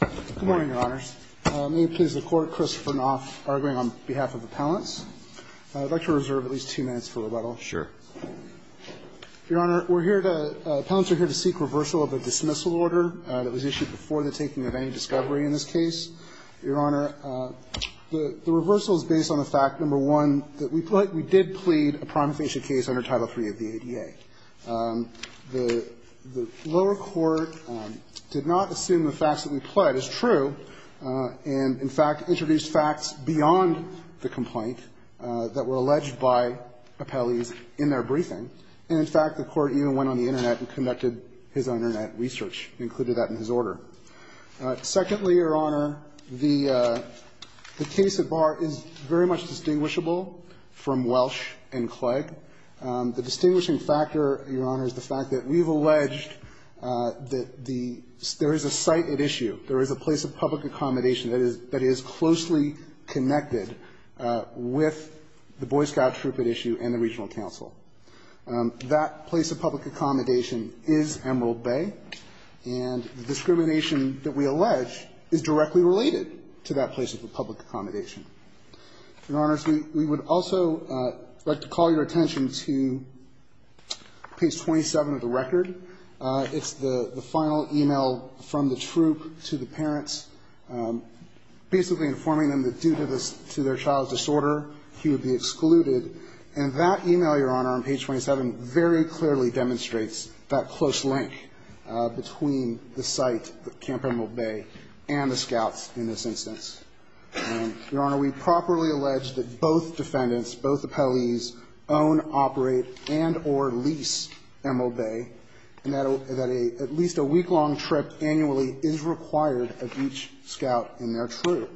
Good morning, Your Honors. May it please the Court, Christopher Knopf, arguing on behalf of Appellants. I'd like to reserve at least two minutes for rebuttal. Sure. Your Honor, we're here to, Appellants are here to seek reversal of a dismissal order that was issued before the taking of any discovery in this case. Your Honor, the reversal is based on the fact, number one, that we did plead a prime offense case under Title III of the ADA. The lower court did not assume the facts that we pled as true and, in fact, introduced facts beyond the complaint that were alleged by appellees in their briefing. And, in fact, the court even went on the Internet and conducted his Internet research and included that in his order. Secondly, Your Honor, the case at bar is very much distinguishable from Welch and Clegg. The distinguishing factor, Your Honor, is the fact that we've alleged that the ‑‑ there is a site at issue, there is a place of public accommodation that is closely connected with the Boy Scout troop at issue and the regional council. That place of public accommodation is Emerald Bay, and the discrimination that we allege is directly related to that place of public accommodation. Your Honors, we would also like to call your attention to page 27 of the record. It's the final e-mail from the troop to the parents, basically informing them that due to their child's disorder, he would be excluded. And that e-mail, Your Honor, on page 27, very clearly demonstrates that close link between the site, Camp Emerald Bay, and the scouts in this instance. And, Your Honor, we properly allege that both defendants, both appellees, own, operate, and or lease Emerald Bay, and that at least a week‑long trip annually is required of each scout in their troop.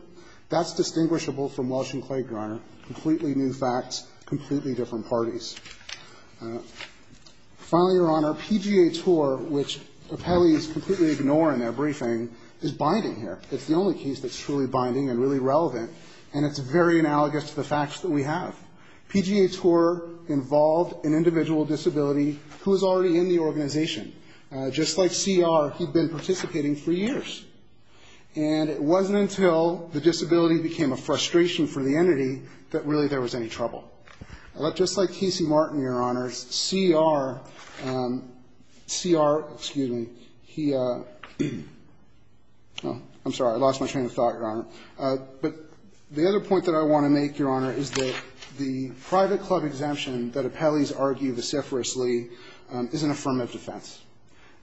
That's distinguishable from Welsh and Clay, Your Honor, completely new facts, completely different parties. Finally, Your Honor, PGA TOUR, which appellees completely ignore in their briefing, is binding here. It's the only case that's truly binding and really relevant, and it's very analogous to the facts that we have. PGA TOUR involved an individual disability who was already in the organization. Just like C.R., he'd been participating for years. And it wasn't until the disability became a frustration for the entity that really there was any trouble. Just like Casey Martin, Your Honor, C.R. ‑‑ C.R., excuse me. He ‑‑ oh, I'm sorry. I lost my train of thought, Your Honor. But the other point that I want to make, Your Honor, is that the private club exemption that appellees argue vociferously is an affirmative defense.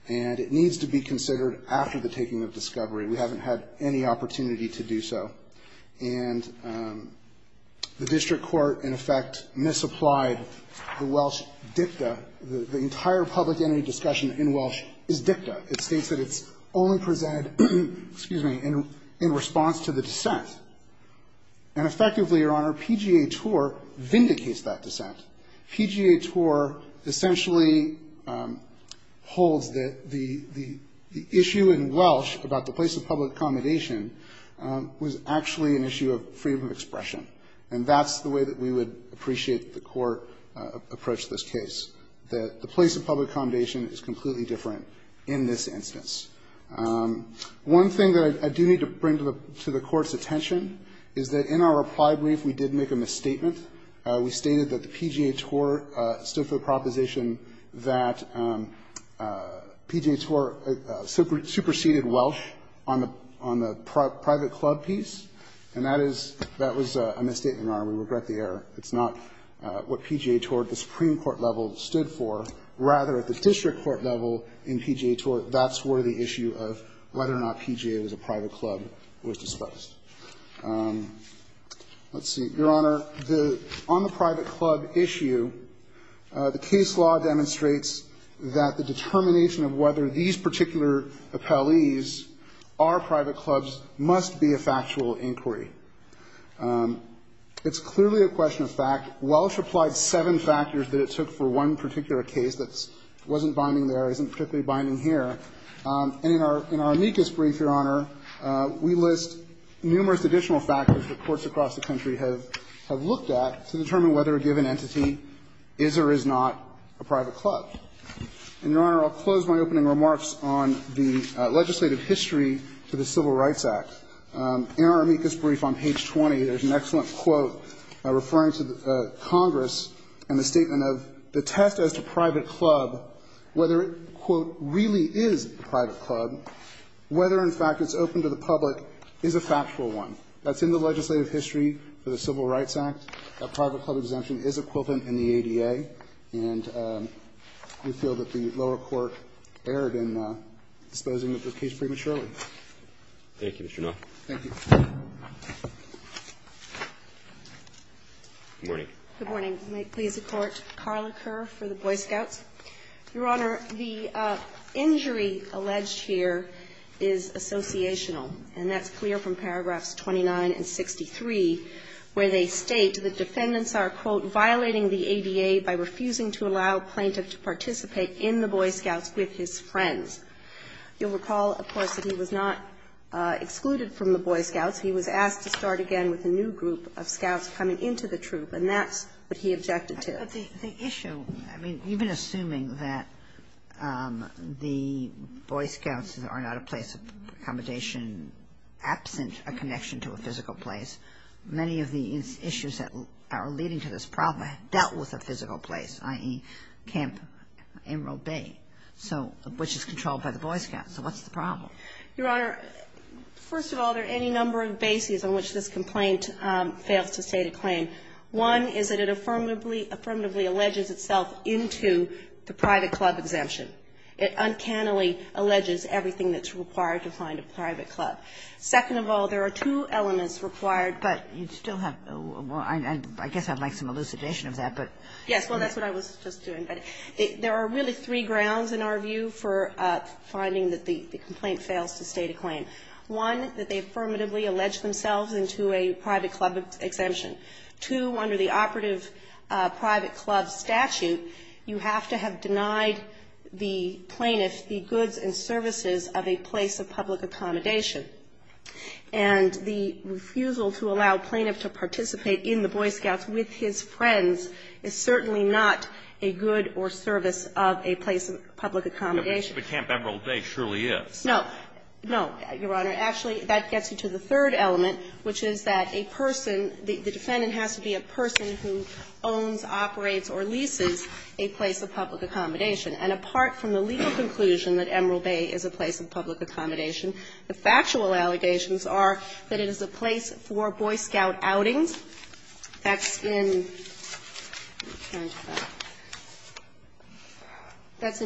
And it needs to be considered after the taking of discovery. We haven't had any opportunity to do so. And the district court, in effect, misapplied the Welsh dicta. The entire public entity discussion in Welsh is dicta. It states that it's only presented, excuse me, in response to the dissent. And effectively, Your Honor, PGA TOUR vindicates that dissent. PGA TOUR essentially holds that the issue in Welsh about the place of public accommodation was actually an issue of freedom of expression. And that's the way that we would appreciate the court approach to this case, that the place of public accommodation is completely different in this instance. One thing that I do need to bring to the court's attention is that in our reply brief we did make a misstatement. We stated that the PGA TOUR stood for the proposition that PGA TOUR superseded Welsh on the private club piece. And that is ‑‑ that was a misstatement, Your Honor. We regret the error. It's not what PGA TOUR at the Supreme Court level stood for. Rather, at the district court level in PGA TOUR, that's where the issue of whether or not PGA was a private club was discussed. Let's see. Your Honor, on the private club issue, the case law demonstrates that the determination of whether these particular appellees are private clubs must be a factual inquiry. It's clearly a question of fact. Welsh applied seven factors that it took for one particular case that wasn't binding there, isn't particularly binding here. And in our amicus brief, Your Honor, we list numerous additional factors that courts across the country have looked at to determine whether a given entity is or is not a private club. And, Your Honor, I'll close my opening remarks on the legislative history to the Civil Rights Act. In our amicus brief on page 20, there's an excellent quote referring to Congress and the statement of the test as to private club, whether it, quote, really is a private club, whether, in fact, it's open to the public, is a factual one. That's in the legislative history for the Civil Rights Act. That private club exemption is equivalent in the ADA. And we feel that the lower court erred in disposing of this case prematurely. Thank you, Mr. Knopf. Thank you. Good morning. Good morning. May it please the Court. Carla Kerr for the Boy Scouts. Your Honor, the injury alleged here is associational. And that's clear from paragraphs 29 and 63, where they state that defendants are, quote, violating the ADA by refusing to allow a plaintiff to participate in the Boy Scouts with his friends. You'll recall, of course, that he was not excluded from the Boy Scouts. He was asked to start again with a new group of scouts coming into the troop, and that's what he objected to. But the issue, I mean, even assuming that the Boy Scouts are not a place of accommodation absent a connection to a physical place, many of the issues that are leading to this problem dealt with a physical place, i.e., Camp Emerald Bay, which is controlled by the Boy Scouts. So what's the problem? Your Honor, first of all, there are any number of bases on which this complaint fails to state a claim. One is that it affirmatively alleges itself into the private club exemption. It uncannily alleges everything that's required to find a private club. Second of all, there are two elements required. But you still have, I guess I'd like some elucidation of that, but. Yes, well, that's what I was just doing. There are really three grounds in our view for finding that the complaint fails to state a claim. One, that they affirmatively allege themselves into a private club exemption. Two, under the operative private club statute, you have to have denied the plaintiff the goods and services of a place of public accommodation. And the refusal to allow plaintiff to participate in the Boy Scouts with his friends is certainly not a good or service of a place of public accommodation. But Camp Emerald Bay surely is. No. No, Your Honor. Actually, that gets you to the third element, which is that a person, the defendant has to be a person who owns, operates, or leases a place of public accommodation. And apart from the legal conclusion that Emerald Bay is a place of public accommodation, the factual allegations are that it is a place for Boy Scout outings. That's in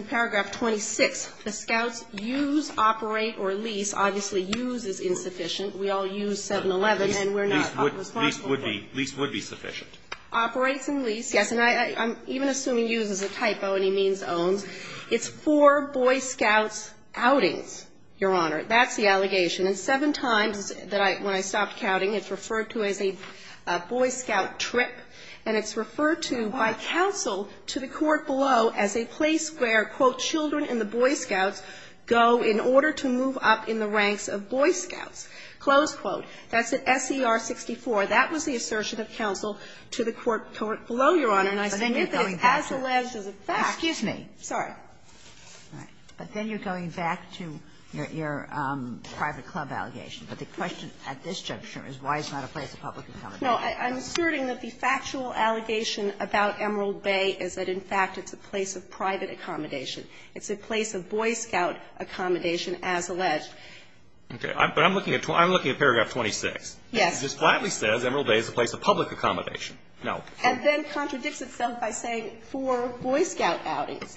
paragraph 26. The Scouts use, operate, or lease. Obviously, use is insufficient. We all use 711, and we're not responsible for that. Lease would be sufficient. Operates and lease, yes. And I'm even assuming use is a typo, and he means owns. It's for Boy Scouts outings, Your Honor. That's the allegation. And seven times that I – when I stopped counting, it's referred to as a Boy Scout trip, and it's referred to by counsel to the court below as a place where, quote, children in the Boy Scouts go in order to move up in the ranks of Boy Scouts. Close quote. That's at SCR-64. That was the assertion of counsel to the court below, Your Honor. And I submit that it's as alleged as a fact. Sotomayor, excuse me. All right. But then you're going back to your private club allegation. But the question at this juncture is why it's not a place of public accommodation. No. I'm asserting that the factual allegation about Emerald Bay is that, in fact, it's a place of private accommodation. It's a place of Boy Scout accommodation as alleged. Okay. But I'm looking at paragraph 26. Yes. It just flatly says Emerald Bay is a place of public accommodation. No. And then contradicts itself by saying for Boy Scout outings.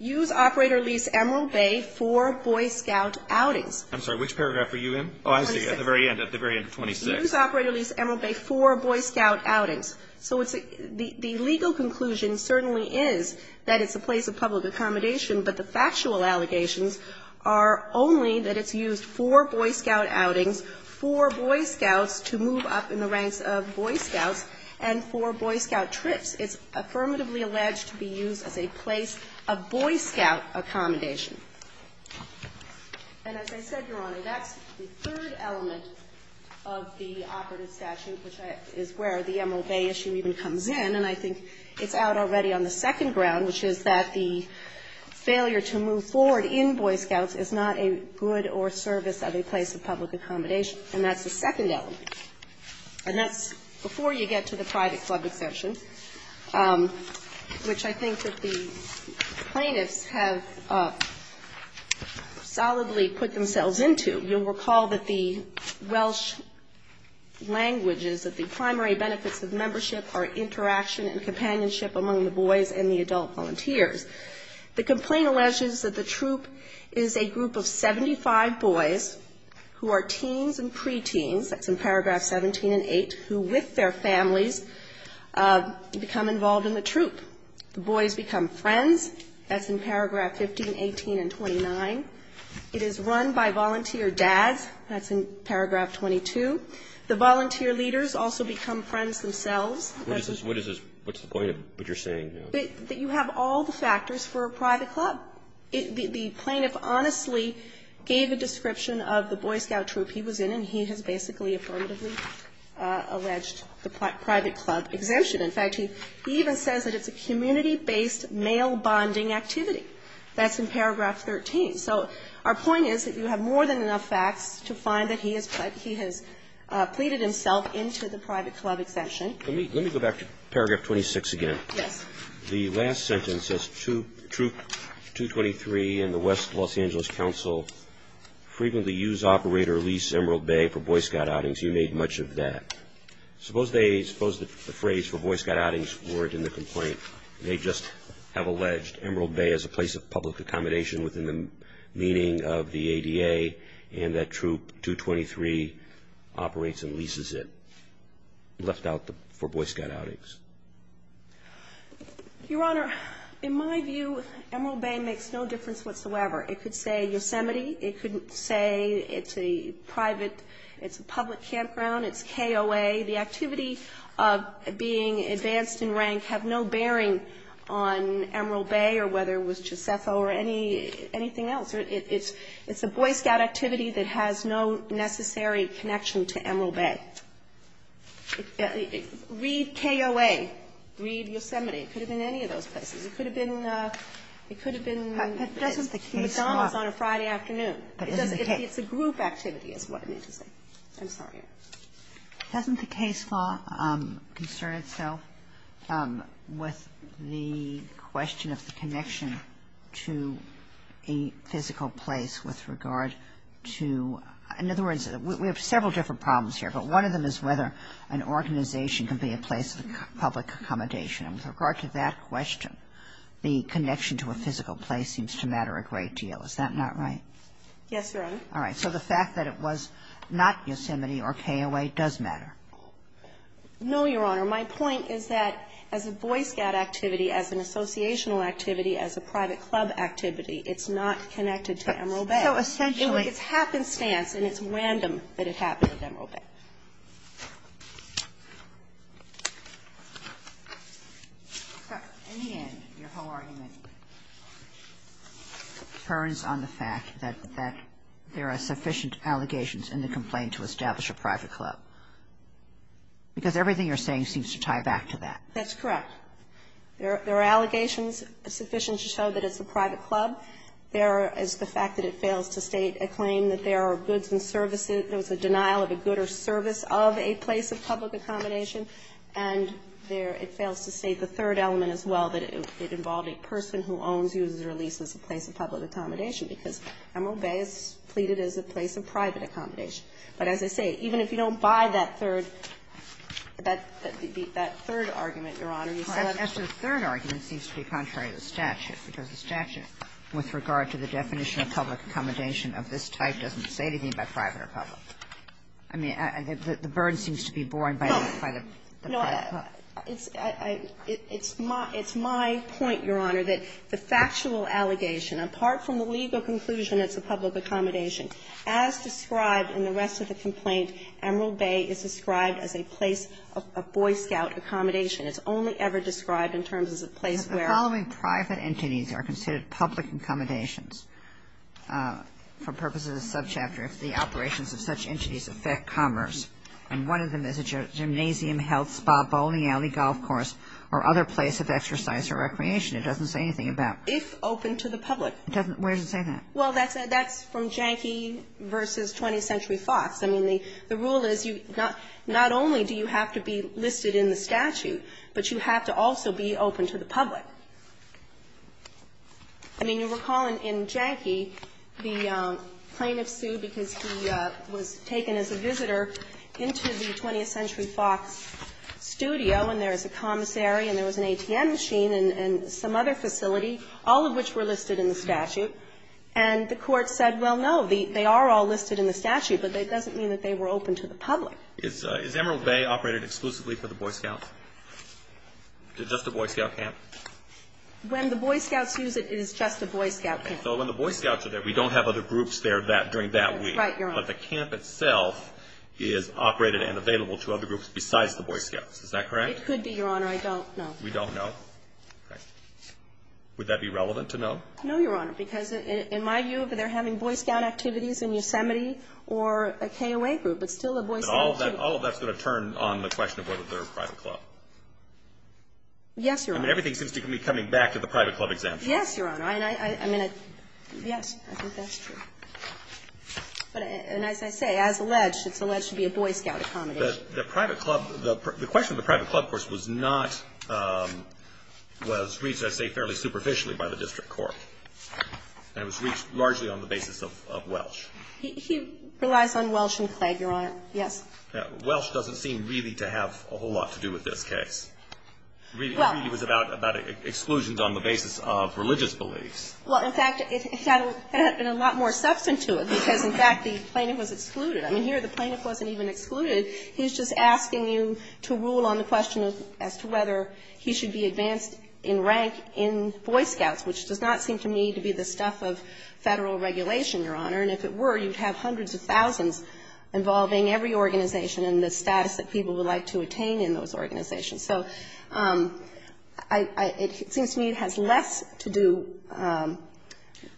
Use operator lease Emerald Bay for Boy Scout outings. I'm sorry. Which paragraph were you in? Oh, I see. At the very end. At the very end of 26. Use operator lease Emerald Bay for Boy Scout outings. So it's a the legal conclusion certainly is that it's a place of public accommodation, but the factual allegations are only that it's used for Boy Scout outings for Boy Scouts to move up in the ranks of Boy Scouts and for Boy Scout trips. It's affirmatively alleged to be used as a place of Boy Scout accommodation. And as I said, Your Honor, that's the third element of the operative statute, which is where the Emerald Bay issue even comes in, and I think it's out already on the second ground, which is that the failure to move forward in Boy Scouts is not a good or service of a place of public accommodation, and that's the second element. And that's before you get to the private club exemption, which I think that the plaintiffs have solidly put themselves into. You'll recall that the Welsh language is that the primary benefits of membership are interaction and companionship among the boys and the adult volunteers. The complaint alleges that the troop is a group of 75 boys who are teens and pre-teens, that's in paragraph 17 and 8, who with their families become involved in the troop. The boys become friends. That's in paragraph 15, 18, and 29. It is run by volunteer dads. That's in paragraph 22. The volunteer leaders also become friends themselves. Roberts. What is this? What's the point of what you're saying? That you have all the factors for a private club. The plaintiff honestly gave a description of the Boy Scout troop he was in and he has basically affirmatively alleged the private club exemption. In fact, he even says that it's a community-based male bonding activity. That's in paragraph 13. So our point is that you have more than enough facts to find that he has pleaded himself into the private club exemption. Let me go back to paragraph 26 again. The last sentence says, Troop 223 and the West Los Angeles Council frequently use, operate, or lease Emerald Bay for Boy Scout outings. You made much of that. Suppose the phrase for Boy Scout outings weren't in the complaint. They just have alleged Emerald Bay as a place of public accommodation within the meaning of the ADA and that Troop 223 operates and leases it, left out for Boy Scout outings. Your Honor, in my view, Emerald Bay makes no difference whatsoever. It could say Yosemite. It could say it's a private, it's a public campground. It's KOA. The activity of being advanced in rank have no bearing on Emerald Bay or whether it was Juscepho or anything else. It's a Boy Scout activity that has no necessary connection to Emerald Bay. Read KOA. Read Yosemite. It could have been any of those places. It could have been McDonald's on a Friday afternoon. It's a group activity is what it means to say. I'm sorry. Kagan. Doesn't the case law concern itself with the question of the connection to a physical place with regard to, in other words, we have several different problems here, but one of them is whether an organization can be a place of public accommodation. And with regard to that question, the connection to a physical place seems to matter a great deal. Is that not right? Yes, Your Honor. All right. So the fact that it was not Yosemite or KOA does matter. No, Your Honor. My point is that as a Boy Scout activity, as an associational activity, as a private club activity, it's not connected to Emerald Bay. So essentially. It's happenstance and it's random that it happened at Emerald Bay. In the end, your whole argument turns on the fact that there are sufficient allegations in the complaint to establish a private club, because everything you're saying seems to tie back to that. That's correct. There are allegations sufficient to show that it's a private club. There is the fact that it fails to state a claim that there are goods and services that was a denial of a good or service of a place of public accommodation. And there, it fails to state the third element as well, that it involved a person who owns, uses, or leases a place of public accommodation, because Emerald Bay is pleaded as a place of private accommodation. But as I say, even if you don't buy that third, that third argument, Your Honor, you still have to. Kagan seems to be contrary to the statute, because the statute, with regard to the definition of public accommodation of this type, doesn't say anything about private or public. I mean, the burden seems to be borne by the private club. No. It's my point, Your Honor, that the factual allegation, apart from the legal conclusion it's a public accommodation, as described in the rest of the complaint, Emerald Bay is described as a place of Boy Scout accommodation. It's only ever described in terms of a place where the following private entities are considered public accommodations for purposes of subchapter if the operations of such entities affect commerce, and one of them is a gymnasium, health spa, bowling alley, golf course, or other place of exercise or recreation. It doesn't say anything about. If open to the public. Where does it say that? Well, that's from Janky v. 20th Century Fox. I mean, the rule is you not only do you have to be listed in the statute, but you have to also be open to the public. I mean, you recall in Janky, the plaintiff sued because he was taken as a visitor into the 20th Century Fox studio, and there was a commissary and there was an ATM machine and some other facility, all of which were listed in the statute, and the public. Is Emerald Bay operated exclusively for the Boy Scouts? Is it just a Boy Scout camp? When the Boy Scouts use it, it is just a Boy Scout camp. So when the Boy Scouts are there, we don't have other groups there during that week. Right, Your Honor. But the camp itself is operated and available to other groups besides the Boy Scouts. Is that correct? It could be, Your Honor. I don't know. We don't know. Would that be relevant to know? No, Your Honor, because in my view, if they're having Boy Scout activities in Yosemite or a KOA group, it's still a Boy Scout camp. All of that's going to turn on the question of whether they're a private club. Yes, Your Honor. I mean, everything seems to be coming back to the private club exemption. Yes, Your Honor. I mean, yes, I think that's true. And as I say, as alleged, it's alleged to be a Boy Scout accommodation. The private club, the question of the private club, of course, was not, was reached, as I say, fairly superficially by the district court. And it was reached largely on the basis of Welsh. He relies on Welsh and Clegg, Your Honor. Yes. Welsh doesn't seem really to have a whole lot to do with this case. Well. It really was about exclusions on the basis of religious beliefs. Well, in fact, it had a lot more substance to it because, in fact, the plaintiff was excluded. I mean, here the plaintiff wasn't even excluded. He's just asking you to rule on the question as to whether he should be advanced in rank in Boy Scouts, which does not seem to me to be the stuff of Federal regulation, Your Honor. And if it were, you'd have hundreds of thousands involving every organization and the status that people would like to attain in those organizations. So it seems to me it has less to do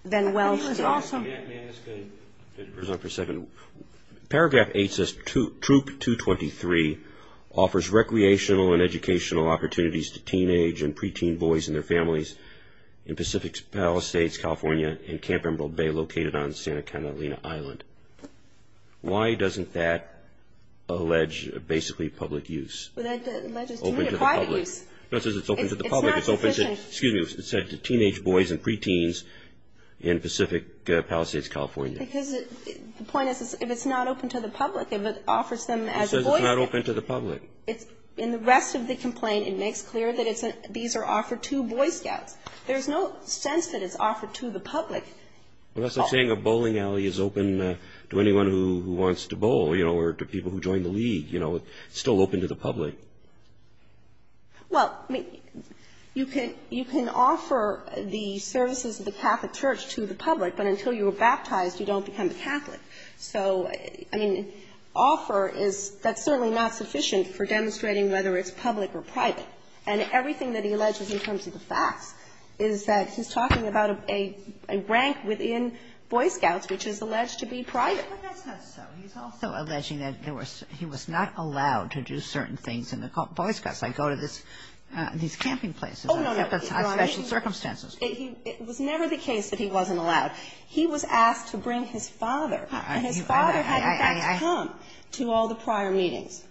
than Welsh does. May I ask a result for a second? Paragraph 8 says Troop 223 offers recreational and educational opportunities to teenage and preteen boys and their families in Pacific Palisades, California, in Camp Emerald Bay located on Santa Catalina Island. Why doesn't that allege basically public use? Well, that alleges to me of private use. No, it says it's open to the public. It's not sufficient. Excuse me. It said to teenage boys and preteens in Pacific Palisades, California. Because the point is if it's not open to the public, if it offers them as a boy scout. It says it's not open to the public. In the rest of the complaint, it makes clear that these are offered to boy scouts. There's no sense that it's offered to the public. Well, that's like saying a bowling alley is open to anyone who wants to bowl, you know, or to people who join the league, you know. It's still open to the public. Well, I mean, you can offer the services of the Catholic Church to the public, but until you are baptized, you don't become a Catholic. So, I mean, offer is that's certainly not sufficient for demonstrating whether it's public or private. And everything that he alleges in terms of the facts is that he's talking about a rank within boy scouts which is alleged to be private. But that's not so. He's also alleging that there was he was not allowed to do certain things in the boy scouts, like go to this, these camping places on special circumstances. It was never the case that he wasn't allowed. He was asked to bring his father. And his father had, in fact, come to all the prior meetings.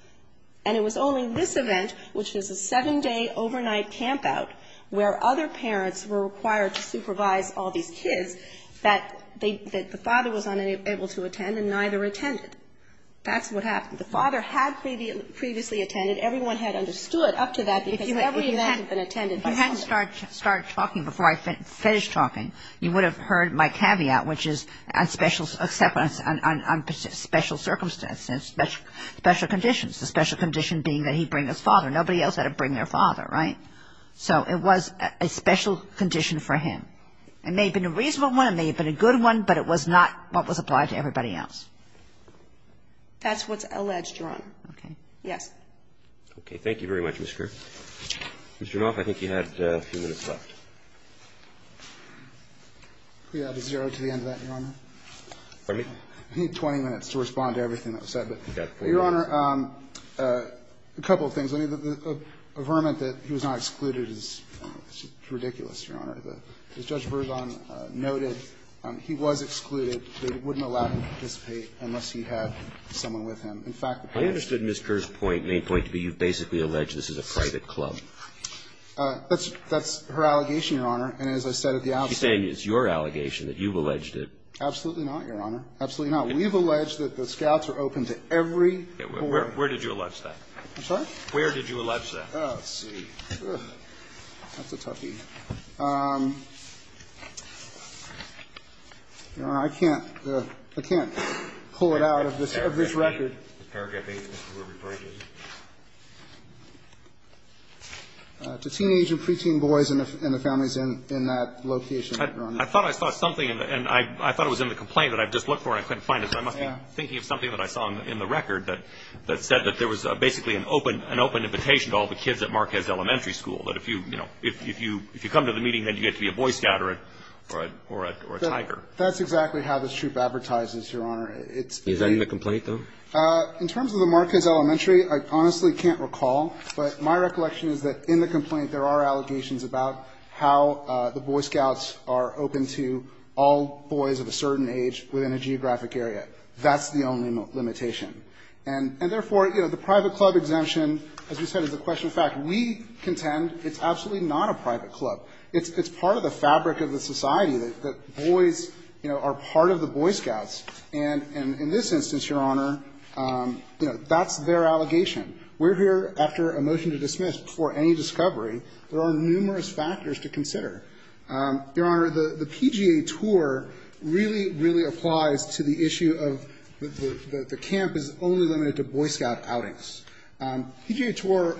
And it was only this event, which was a seven-day overnight campout where other parents were required to supervise all these kids, that they the father was unable to attend and neither attended. That's what happened. The father had previously attended. Everyone had understood up to that because every event had been attended by somebody. And if I had started talking before I finished talking, you would have heard my caveat, which is on special circumstances, special conditions. The special condition being that he bring his father. Nobody else had to bring their father, right? So it was a special condition for him. It may have been a reasonable one. It may have been a good one, but it was not what was applied to everybody else. That's what's alleged, Your Honor. Okay. Yes. Okay. Thank you very much, Ms. Kerr. Mr. Knauf, I think you had a few minutes left. Can we add a zero to the end of that, Your Honor? Pardon me? I need 20 minutes to respond to everything that was said. You've got 40. Your Honor, a couple of things. A vermint that he was not excluded is ridiculous, Your Honor. As Judge Verzon noted, he was excluded. They wouldn't allow him to participate unless he had someone with him. In fact, perhaps he was. Ms. Knauf, as you said, is not an exception. She's not a private member of the private club. That's her allegation, Your Honor, and as I said at the outset of this case, she's not an exception. She's saying it's your allegation that you've alleged it. Absolutely not, Your Honor. Absolutely not. We've alleged that the Scouts are open to every foreigner. Where did you allege that? I'm sorry? Where did you allege that? Oh, let's see. That's a toughie. Your Honor, I can't pull it out of this record. To teenage and preteen boys and the families in that location, Your Honor. I thought I saw something, and I thought it was in the complaint that I just looked for, and I couldn't find it, so I must be thinking of something that I saw in the record that said that there was basically an open invitation to all the kids at Marquez Elementary School, that if you come to the meeting, then you get to be a Boy Scout or a Tiger. That's exactly how this troop advertises, Your Honor. Is that in the complaint, though? In terms of the Marquez Elementary, I honestly can't recall, but my recollection is that in the complaint there are allegations about how the Boy Scouts are open to all boys of a certain age within a geographic area. That's the only limitation. And therefore, you know, the private club exemption, as we said, is a question of fact. We contend it's absolutely not a private club. It's part of the fabric of the society that boys, you know, are part of the Boy Scouts. And in this instance, Your Honor, you know, that's their allegation. We're here after a motion to dismiss before any discovery. There are numerous factors to consider. Your Honor, the PGA tour really, really applies to the issue of the camp is only limited to Boy Scout outings. PGA tour,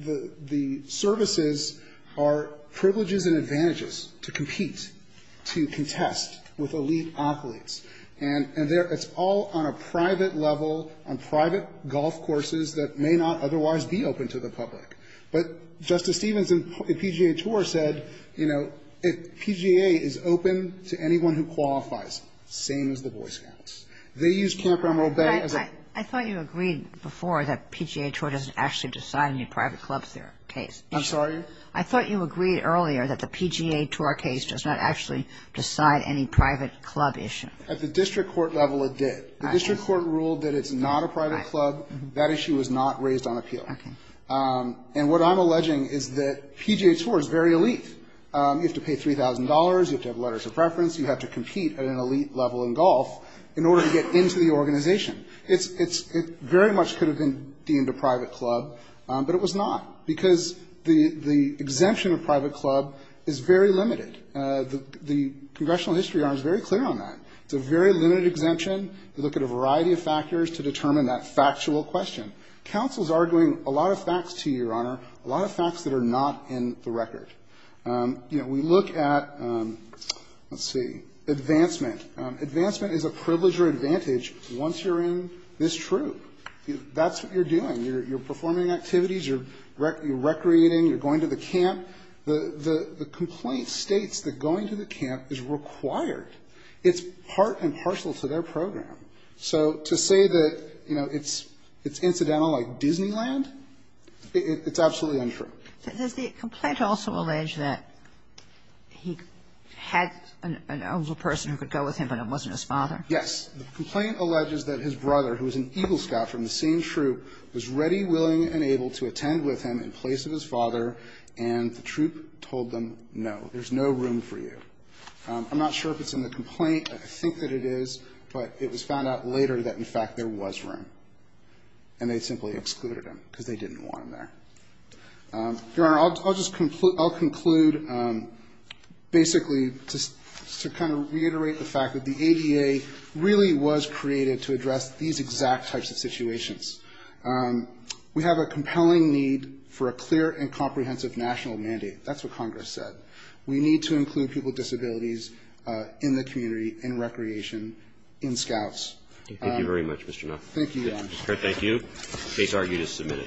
the services are privileges and advantages to compete, to contest with elite athletes. And it's all on a private level, on private golf courses that may not otherwise be open to the public. But Justice Stevens in the PGA tour said, you know, PGA is open to anyone who qualifies, same as the Boy Scouts. They use Camp Emerald Bay as a ---- I thought you agreed before that PGA tour doesn't actually decide any private club case. I'm sorry? I thought you agreed earlier that the PGA tour case does not actually decide any private club issue. At the district court level, it did. The district court ruled that it's not a private club. That issue was not raised on appeal. Okay. And what I'm alleging is that PGA tour is very elite. You have to pay $3,000. You have to have letters of preference. You have to compete at an elite level in golf in order to get into the organization. It's very much could have been deemed a private club, but it was not because the exemption of private club is very limited. The congressional history arm is very clear on that. It's a very limited exemption. You look at a variety of factors to determine that factual question. Counsel is arguing a lot of facts to you, Your Honor, a lot of facts that are not in the record. You know, we look at, let's see, advancement. Advancement is a privilege or advantage once you're in this troop. That's what you're doing. You're performing activities. You're recreating. You're going to the camp. The complaint states that going to the camp is required. It's part and parcel to their program. So to say that, you know, it's incidental like Disneyland, it's absolutely untrue. Does the complaint also allege that he had an older person who could go with him and it wasn't his father? Yes. The complaint alleges that his brother, who was an Eagle Scout from the same troop, was ready, willing, and able to attend with him in place of his father. And the troop told them, no, there's no room for you. I'm not sure if it's in the complaint. I think that it is. But it was found out later that, in fact, there was room. And they simply excluded him because they didn't want him there. Your Honor, I'll just conclude basically to kind of reiterate the fact that the ADA really was created to address these exact types of situations. We have a compelling need for a clear and comprehensive national mandate. That's what Congress said. We need to include people with disabilities in the community, in recreation, in Scouts. Thank you very much, Mr. Knapp. Thank you, Your Honor. Mr. Knapp, thank you. Case RU to submit it.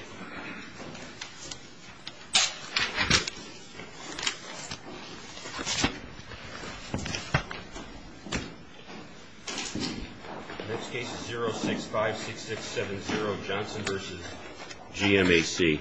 Next case is 0656670, Johnson v. GMAC.